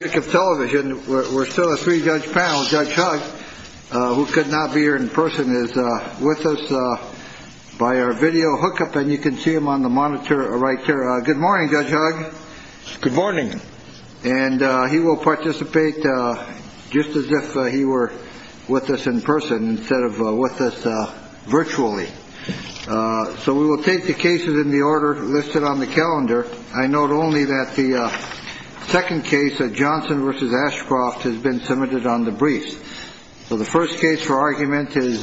television. We're still a three-judge panel. Judge Hugg, who could not be here in person, is with us by our video hookup, and you can see him on the monitor right here. Good morning, Judge Hugg. Good morning. And he will participate just as if he were with us in person instead of with us virtually. So we will take the cases in the order listed on the calendar. I note only that the second case, Johnson v. Ashcroft, has been submitted on the briefs. So the first case for argument is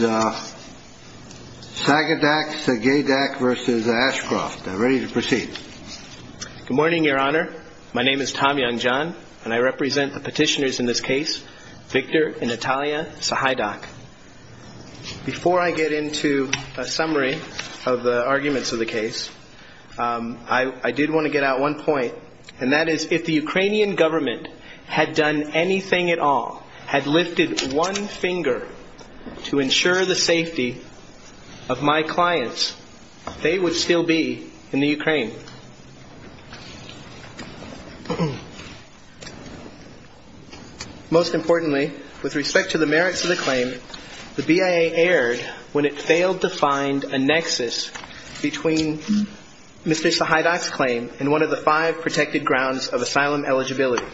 Sagadak vs. Ashcroft. Ready to proceed. Good morning, Your Honor. My name is Tom Youngjohn, and I represent the petitioners in this case, Victor and Natalia Sahydak. Before I get into a summary of the arguments of the case, I did want to get out one point, and that is if the Ukrainian government had done anything at all, had lifted one finger to ensure the safety of my clients, they would still be in the Ukraine. Most importantly, with respect to the merits of the claim, the BIA erred when it failed to find a nexus between Mr. Sahydak's claim and one of the five protected grounds of asylum eligibility.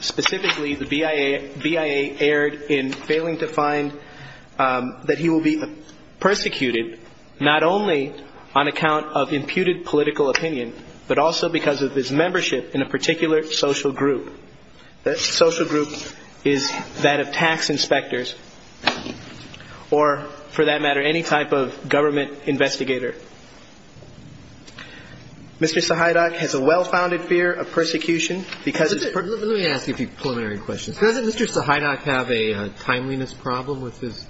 Specifically, the BIA erred in failing to find that he will be persecuted not only on account of imputed political opinion, but also because of his membership in a particular social group. That social group is that of tax inspectors, or for that matter, any type of government investigator. Mr. Sahydak has a well-founded fear of persecution because it's... Let me ask you a few preliminary questions. Doesn't Mr. Sahydak have a timeliness problem with his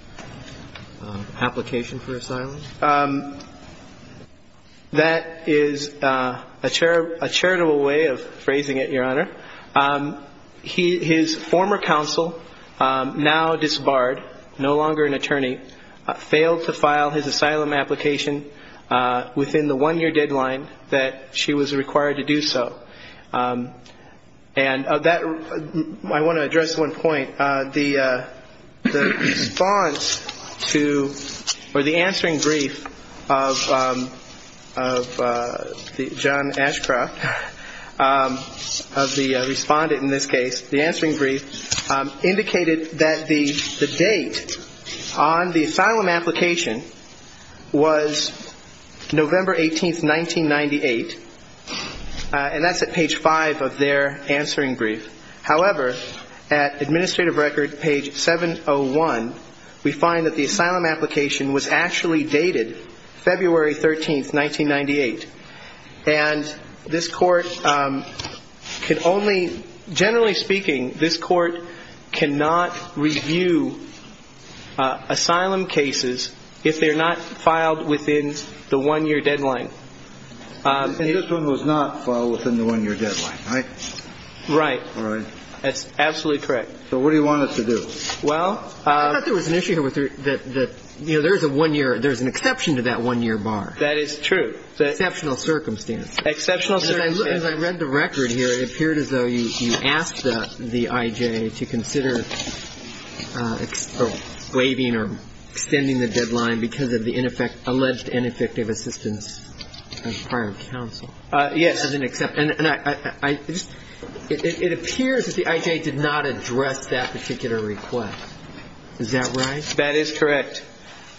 application for asylum? That is a charitable way of phrasing it, Your Honor. His former counsel, now disbarred, no longer an attorney, failed to file his asylum application within the one-year deadline that she was required to do so. I want to address one point. The response to, or the answering brief of John Ashcroft, of the former counsel, John Ashcroft, the respondent in this case, the answering brief, indicated that the date on the asylum application was November 18th, 1998, and that's at page five of their answering brief. However, at Administrative Record, page 701, we find that the asylum application was actually dated February 13th, 1998, and this Court could only find the date of the application. Generally speaking, this Court cannot review asylum cases if they're not filed within the one-year deadline. And this one was not filed within the one-year deadline, right? Right. That's absolutely correct. So what do you want us to do? Well... I thought there was an issue here with the... You know, there's a one-year... There's an exception to that one-year bar. That is true. Exceptional circumstances. Exceptional circumstances. As I read the record here, it appeared as though you asked the I.J. to consider waiving or extending the deadline because of the alleged ineffective assistance of the prior counsel. Yes. And I just... It appears that the I.J. did not address that particular request. Is that right? That is correct.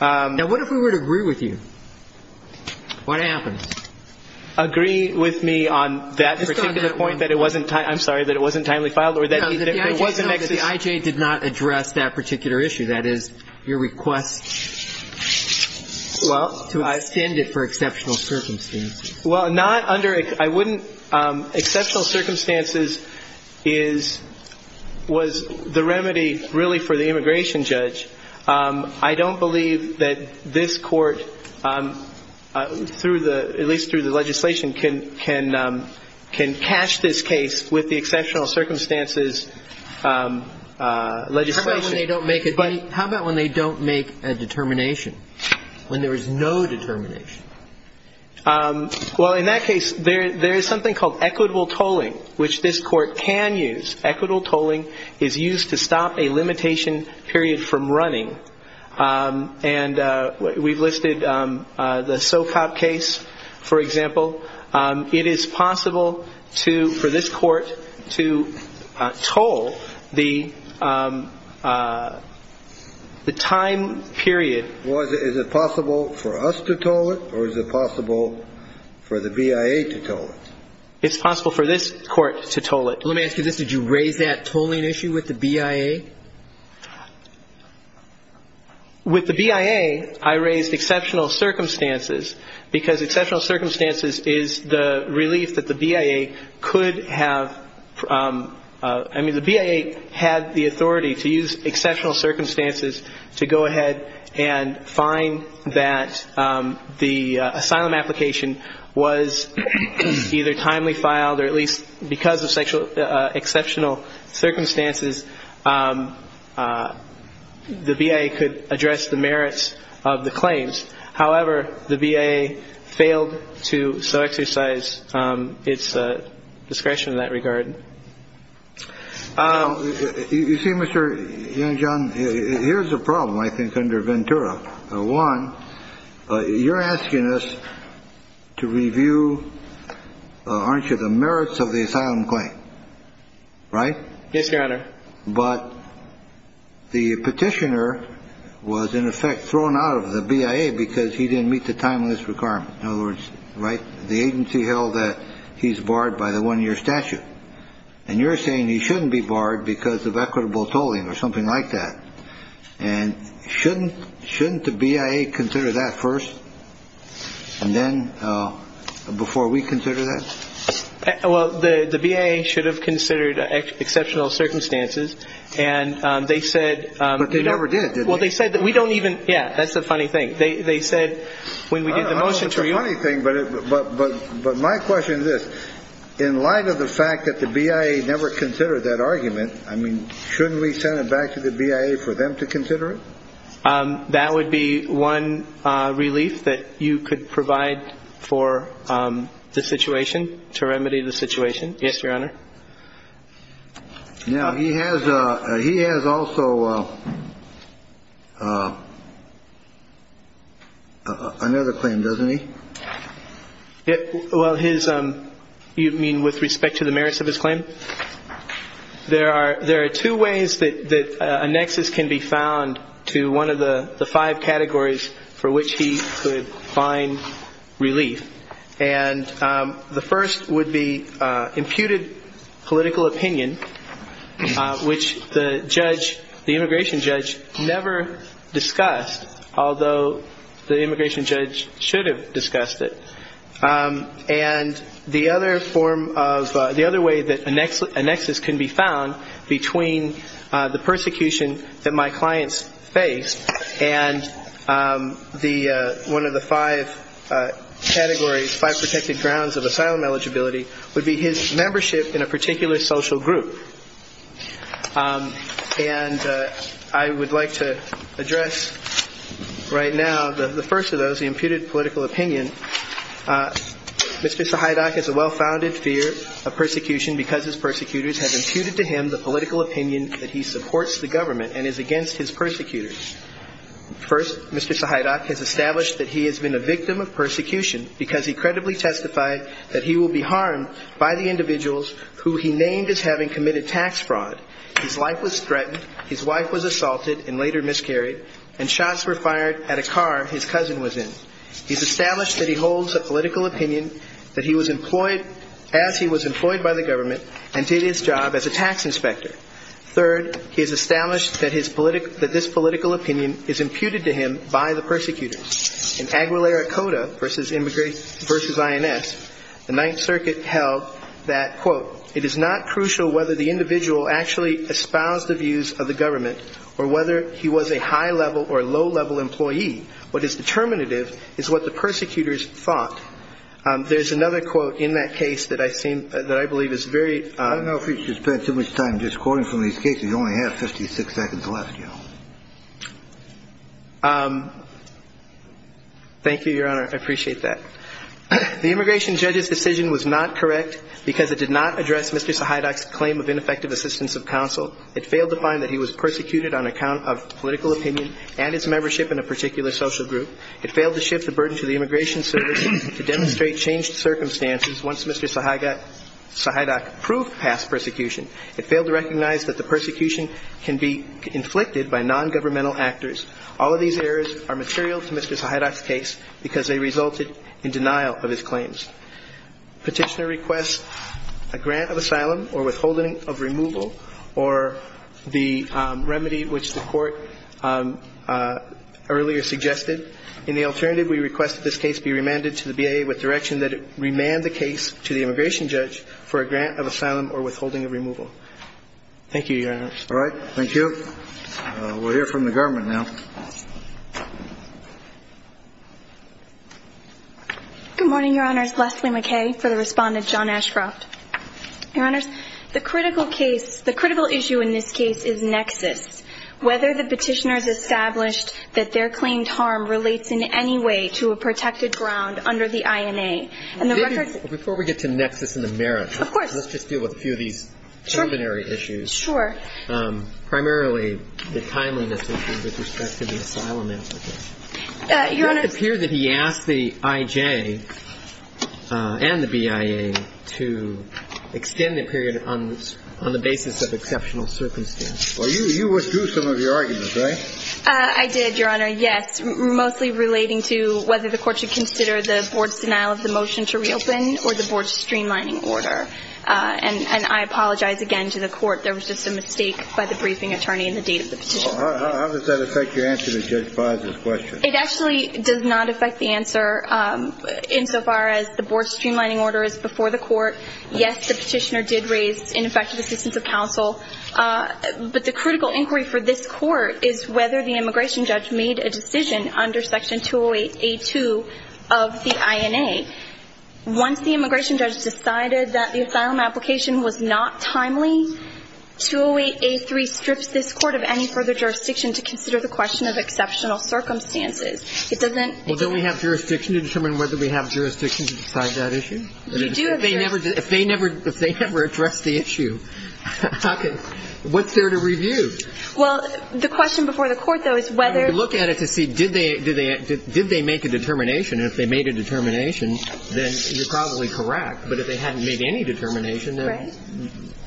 Now, what if we were to agree with you? What happens? Agree with me on that particular point that it wasn't timely... I'm sorry, that it wasn't timely filed or that it wasn't... No, that the I.J. did not address that particular issue. That is, your request to extend it for exceptional circumstances. Well, not under... I wouldn't... Exceptional circumstances is... was the remedy, really, for the immigration judge. I don't believe that this court, through the... at least through the legislation, can catch this case with the exceptional circumstances legislation. How about when they don't make a determination? When there is no determination? Well, in that case, there is something called equitable tolling, which this court can use. Equitable tolling is used to stop a limitation period from running. And we've listed the Socop case, for example. It is possible to, for this court, to toll the time period... Was it... Is it possible for us to toll it or is it possible for the BIA to toll it? It's possible for this court to toll it. Let me ask you this. Did you raise that tolling issue with the BIA? With the BIA, I raised exceptional circumstances because exceptional circumstances is the relief that the BIA could have... I mean, the BIA had the authority to use exceptional circumstances to go ahead and find that the asylum application was either timely filed or at least, because of sexual and exceptional circumstances, the BIA could address the merits of the claims. However, the BIA failed to so exercise its discretion in that regard. You see, Mr. Yangjian, here's the problem, I think, under Ventura. One, you're asking us to review, aren't you, the merits of the asylum claim, right? Yes, Your Honor. But the petitioner was, in effect, thrown out of the BIA because he didn't meet the timeless requirement. In other words, right, the agency held that he's barred by the one-year statute. And you're saying he shouldn't be barred because of equitable tolling or something like that. And shouldn't the BIA consider that first? And then before we consider that? Well, the BIA should have considered exceptional circumstances. And they said... But they never did, did they? Well, they said that we don't even... Yeah, that's the funny thing. They said when we did the motion... I don't know if it's a funny thing, but my question is this. In light of the fact that the BIA never considered that argument, I mean, shouldn't we send it back to the BIA for them to consider it? That would be one relief that you could provide for the situation, to remedy the situation. Yes, Your Honor. Now, he has also another claim, doesn't he? Well, you mean with respect to the merits of his claim? There are two ways that a nexus can be found to one of the five categories for which he could find relief. And the first would be imputed political opinion, which the immigration judge never discussed, although the immigration judge should have discussed it. And the other way that a nexus can be found between the persecution that my clients face and one of the five categories, five protected grounds of asylum eligibility, would be his membership in a particular social group. And I would like to address right now the first of those, the imputed political opinion. Mr. Sahaidach has a well-founded fear of persecution because his persecutors have imputed to him the political opinion that he supports the government and is against his persecutors. First, Mr. Sahaidach has established that he has been a victim of persecution because he credibly testified that he will be harmed by the individuals who he named as having committed tax fraud. His life was threatened, his wife was assaulted and later on he was killed. He has established that he holds a political opinion that he was employed as he was employed by the government and did his job as a tax inspector. Third, he has established that this political opinion is imputed to him by the persecutors. In Aguilera Coda versus INS, the Ninth Circuit held that, quote, it is not crucial whether the individual actually espoused the views of the government or whether he was a high-level or low-level employee. What is determinative is what the persecutors thought. There's another quote in that case that I believe is very... I don't know if you should spend too much time just quoting from these cases. You only have 56 seconds left, you know. Thank you, Your Honor. I appreciate that. The immigration judge's decision was not correct because it did not address Mr. Sahaidach's claim of ineffective assistance of counsel. It failed to find that he was persecuted on account of political opinion and his membership in a particular social group. It failed to shift the burden to the Immigration Service to demonstrate changed circumstances once Mr. Sahaidach proved past persecution. It failed to recognize that the persecution can be inflicted by nongovernmental actors. All of these errors are material to Mr. Sahaidach's case because they resulted in denial of his claims. Petitioner requests a grant of asylum or withholding of removal or the remedy which the Court earlier suggested. In the alternative, we request that this case be remanded to the BIA with direction that it remand the case to the immigration judge for a grant of asylum or withholding of removal. Thank you, Your Honor. All right. Thank you. We'll hear from the government now. Good morning, Your Honors. Leslie McKay for the Respondent, John Ashcroft. Your Honors, the critical case, the critical issue in this case is nexus. Whether the petitioner has established that their claimed harm relates in any way to a protected ground under the INA and the record of the court. Before we get to nexus and the merits, let's just deal with a few of these preliminary issues. Sure. Primarily, the timeliness issue with respect to the asylum applicant. Your Honor. It does appear that he asked the IJ and the BIA to extend the period on the basis of exceptional circumstances. Well, you withdrew some of your arguments, right? I did, Your Honor, yes, mostly relating to whether the Court should consider the Board's denial of the motion to reopen or the Board's streamlining order. And I apologize again to the Court. There was just a mistake by the briefing attorney in the date of the petition. How does that affect your answer to Judge Fah's question? It actually does not affect the answer insofar as the Board's streamlining order is before the Court. Yes, the petitioner did raise ineffective assistance of counsel. But the critical inquiry for this Court is whether the immigration judge made a decision under Section 208A2 of the INA. Once the immigration judge decided that the asylum application was not timely, 208A3 strips this Court of any further jurisdiction to consider the question of exceptional circumstances. It doesn't... Well, don't we have jurisdiction to determine whether we have jurisdiction to decide that issue? You do, Your Honor. If they never addressed the issue, what's there to review? Well, the question before the Court, though, is whether... You have to look at it to see, did they make a determination? And if they made a determination, then you're probably correct. But if they hadn't made any determination... Right.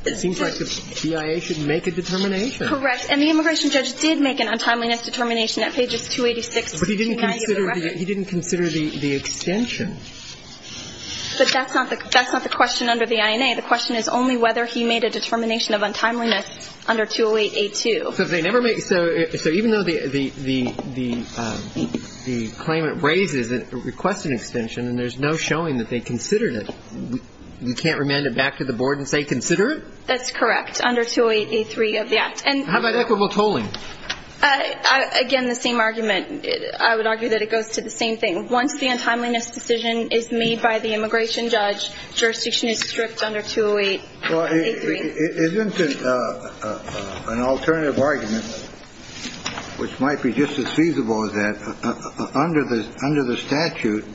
...it seems like the BIA should make a determination. Correct. And the immigration judge did make an untimeliness determination at pages 286 to 298 of the record. But he didn't consider the extension. But that's not the question under the INA. The question is only whether he made a determination of untimeliness under 208A2. So even though the claimant raises a requested extension and there's no showing that they considered it, you can't remand it back to the board and say, consider it? That's correct, under 208A3 of the Act. How about equitable tolling? Again, the same argument. I would argue that it goes to the same thing. Once the untimeliness decision is made by the immigration judge, jurisdiction is stripped under 208A3. Well, isn't it an alternative argument, which might be just as feasible as that, under the statute,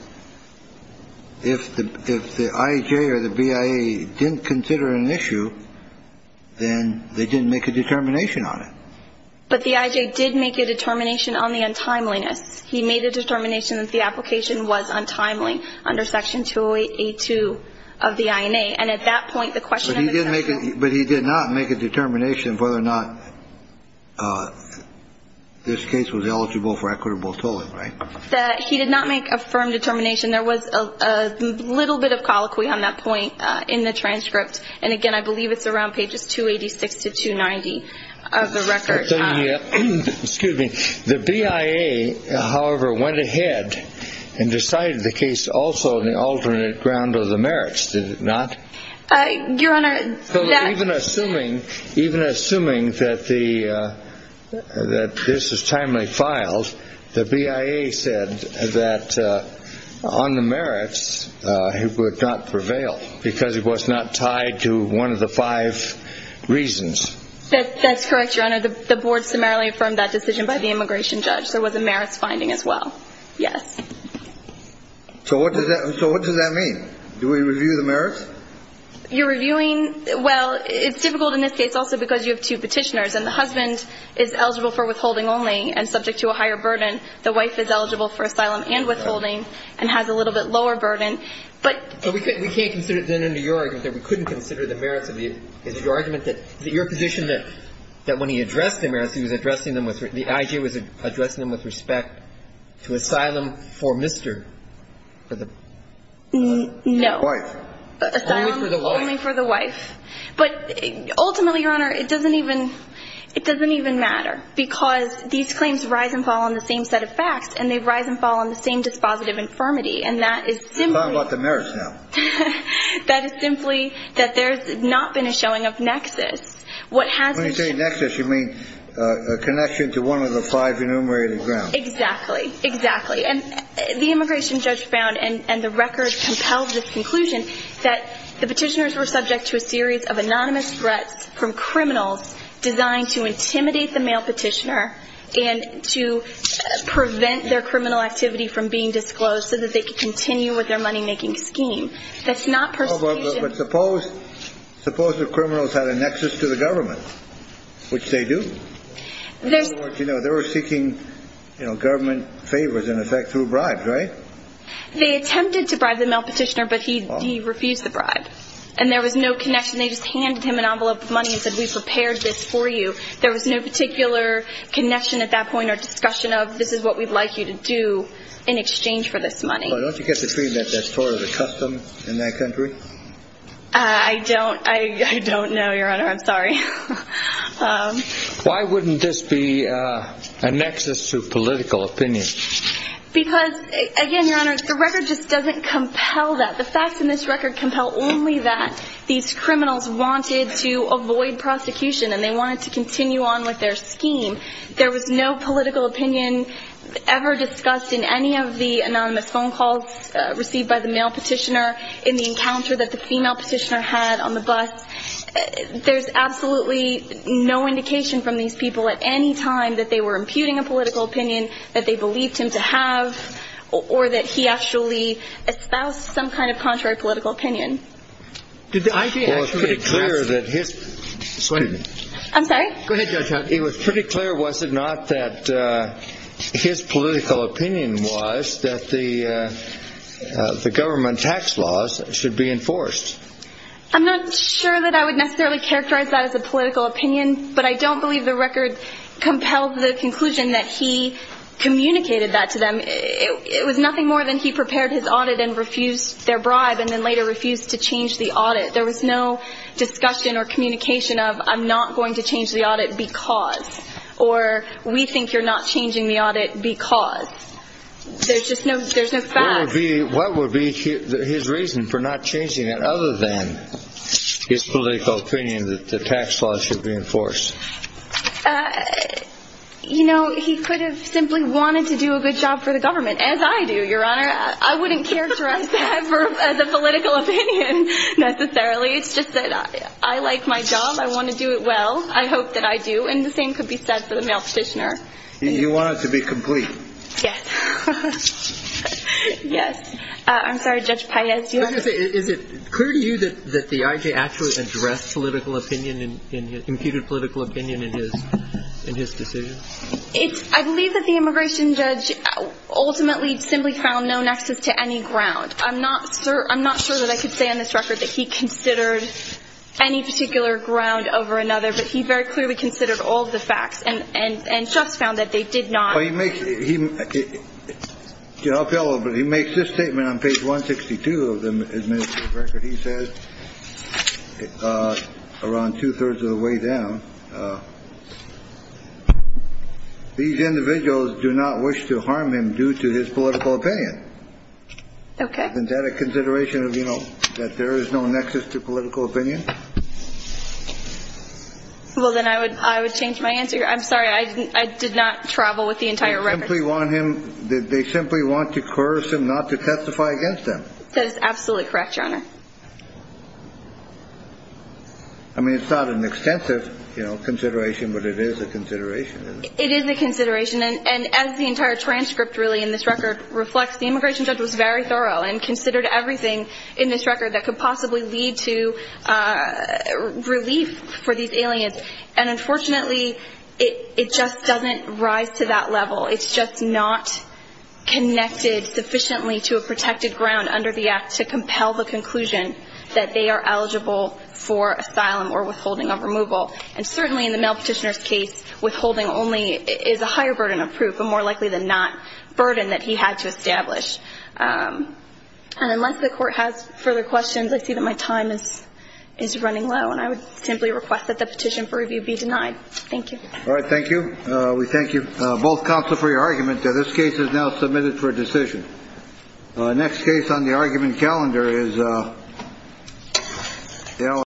if the IJ or the BIA didn't consider an issue, then they didn't make a determination on it. But the IJ did make a determination on the untimeliness. He made a determination that the application was untimely under Section 208A2 of the INA. But he did not make a determination whether or not this case was eligible for equitable tolling, right? He did not make a firm determination. There was a little bit of colloquy on that point in the transcript. And again, I believe it's around pages 286 to 290 of the record. Excuse me. The BIA, however, went ahead and decided the case also on the alternate ground of the merits, did it not? Your Honor. Even assuming that this is timely filed, the BIA said that on the merits it would not prevail because it was not tied to one of the five reasons. That's correct, Your Honor. The Board summarily affirmed that decision by the immigration judge. There was a merits finding as well. Yes. So what does that mean? Do we review the merits? You're reviewing – well, it's difficult in this case also because you have two petitioners. And the husband is eligible for withholding only and subject to a higher burden. The wife is eligible for asylum and withholding and has a little bit lower burden. But we can't consider it then under your argument that we couldn't consider the merits of the – is it your argument that – is it your position that when he addressed the merits, he was addressing them with – the IG was addressing them with respect to asylum for Mr. – for the wife? No. Only for the wife. Only for the wife. But ultimately, Your Honor, it doesn't even – it doesn't even matter because these claims rise and fall on the same set of facts and they rise and fall on the same dispositive infirmity. And that is simply – How about the merits now? That is simply that there's not been a showing of nexus. What has – When you say nexus, you mean a connection to one of the five enumerated grounds. Exactly. Exactly. And the immigration judge found and the record compelled this conclusion that the petitioners were subject to a series of anonymous threats from criminals designed to intimidate the mail petitioner and to prevent their criminal activity from being disclosed so that they could continue with their money-making scheme. That's not persecution. But suppose – suppose the criminals had a nexus to the government, which they do. There's – In other words, you know, they were seeking, you know, government favors, in effect, through bribes, right? They attempted to bribe the mail petitioner, but he refused the bribe. And there was no connection. They just handed him an envelope of money and said, We prepared this for you. There was no particular connection at that point or discussion of, This is what we'd like you to do in exchange for this money. Don't you get the feeling that that's sort of a custom in that country? I don't – I don't know, Your Honor. I'm sorry. Why wouldn't this be a nexus to political opinion? Because, again, Your Honor, the record just doesn't compel that. The facts in this record compel only that these criminals wanted to avoid prosecution and they wanted to continue on with their scheme. There was no political opinion ever discussed in any of the anonymous phone calls received by the mail petitioner in the encounter that the female petitioner had on the bus. There's absolutely no indication from these people at any time that they were imputing a political opinion, that they believed him to have, or that he actually espoused some kind of contrary political opinion. Did the IG actually ask – Well, it was pretty clear that his – I'm sorry? Go ahead, Judge Hunt. It was pretty clear, was it not, that his political opinion was that the government tax laws should be enforced. I'm not sure that I would necessarily characterize that as a political opinion, but I don't believe the record compelled the conclusion that he communicated that to them. It was nothing more than he prepared his audit and refused their bribe and then later refused to change the audit. There was no discussion or communication of, I'm not going to change the audit because, or we think you're not changing the audit because. There's just no facts. What would be his reason for not changing it other than his political opinion that the tax laws should be enforced? You know, he could have simply wanted to do a good job for the government, as I do, Your Honor. I wouldn't characterize that as a political opinion necessarily. It's just that I like my job. I want to do it well. I hope that I do, and the same could be said for the male petitioner. You want it to be complete. Yes. Yes. I'm sorry, Judge Paez. Is it clear to you that the I.J. actually addressed political opinion and computed political opinion in his decision? I believe that the immigration judge ultimately simply found no nexus to any ground. I'm not sure that I could say on this record that he considered any particular ground over another, but he very clearly considered all the facts and just found that they did not. Well, he makes it. But he makes this statement on page 162 of the record. He says around two thirds of the way down. These individuals do not wish to harm him due to his political opinion. OK. Is that a consideration of, you know, that there is no nexus to political opinion? Well, then I would I would change my answer. I'm sorry. I didn't I did not travel with the entire record. We want him. They simply want to curse him not to testify against them. That is absolutely correct, Your Honor. I mean, it's not an extensive consideration, but it is a consideration. It is a consideration. And as the entire transcript really in this record reflects, the immigration judge was very thorough and considered everything in this record that could possibly lead to relief for these aliens. And unfortunately, it just doesn't rise to that level. It's just not connected sufficiently to a protected ground under the act to compel the conclusion that they are eligible for asylum or withholding of removal. And certainly in the male petitioner's case, withholding only is a higher burden of proof and more likely than not burden that he had to establish. And unless the court has further questions, I see that my time is running low, and I would simply request that the petition for review be denied. Thank you. All right. Thank you. We thank you both for your argument. This case is now submitted for decision. Next case on the argument calendar is.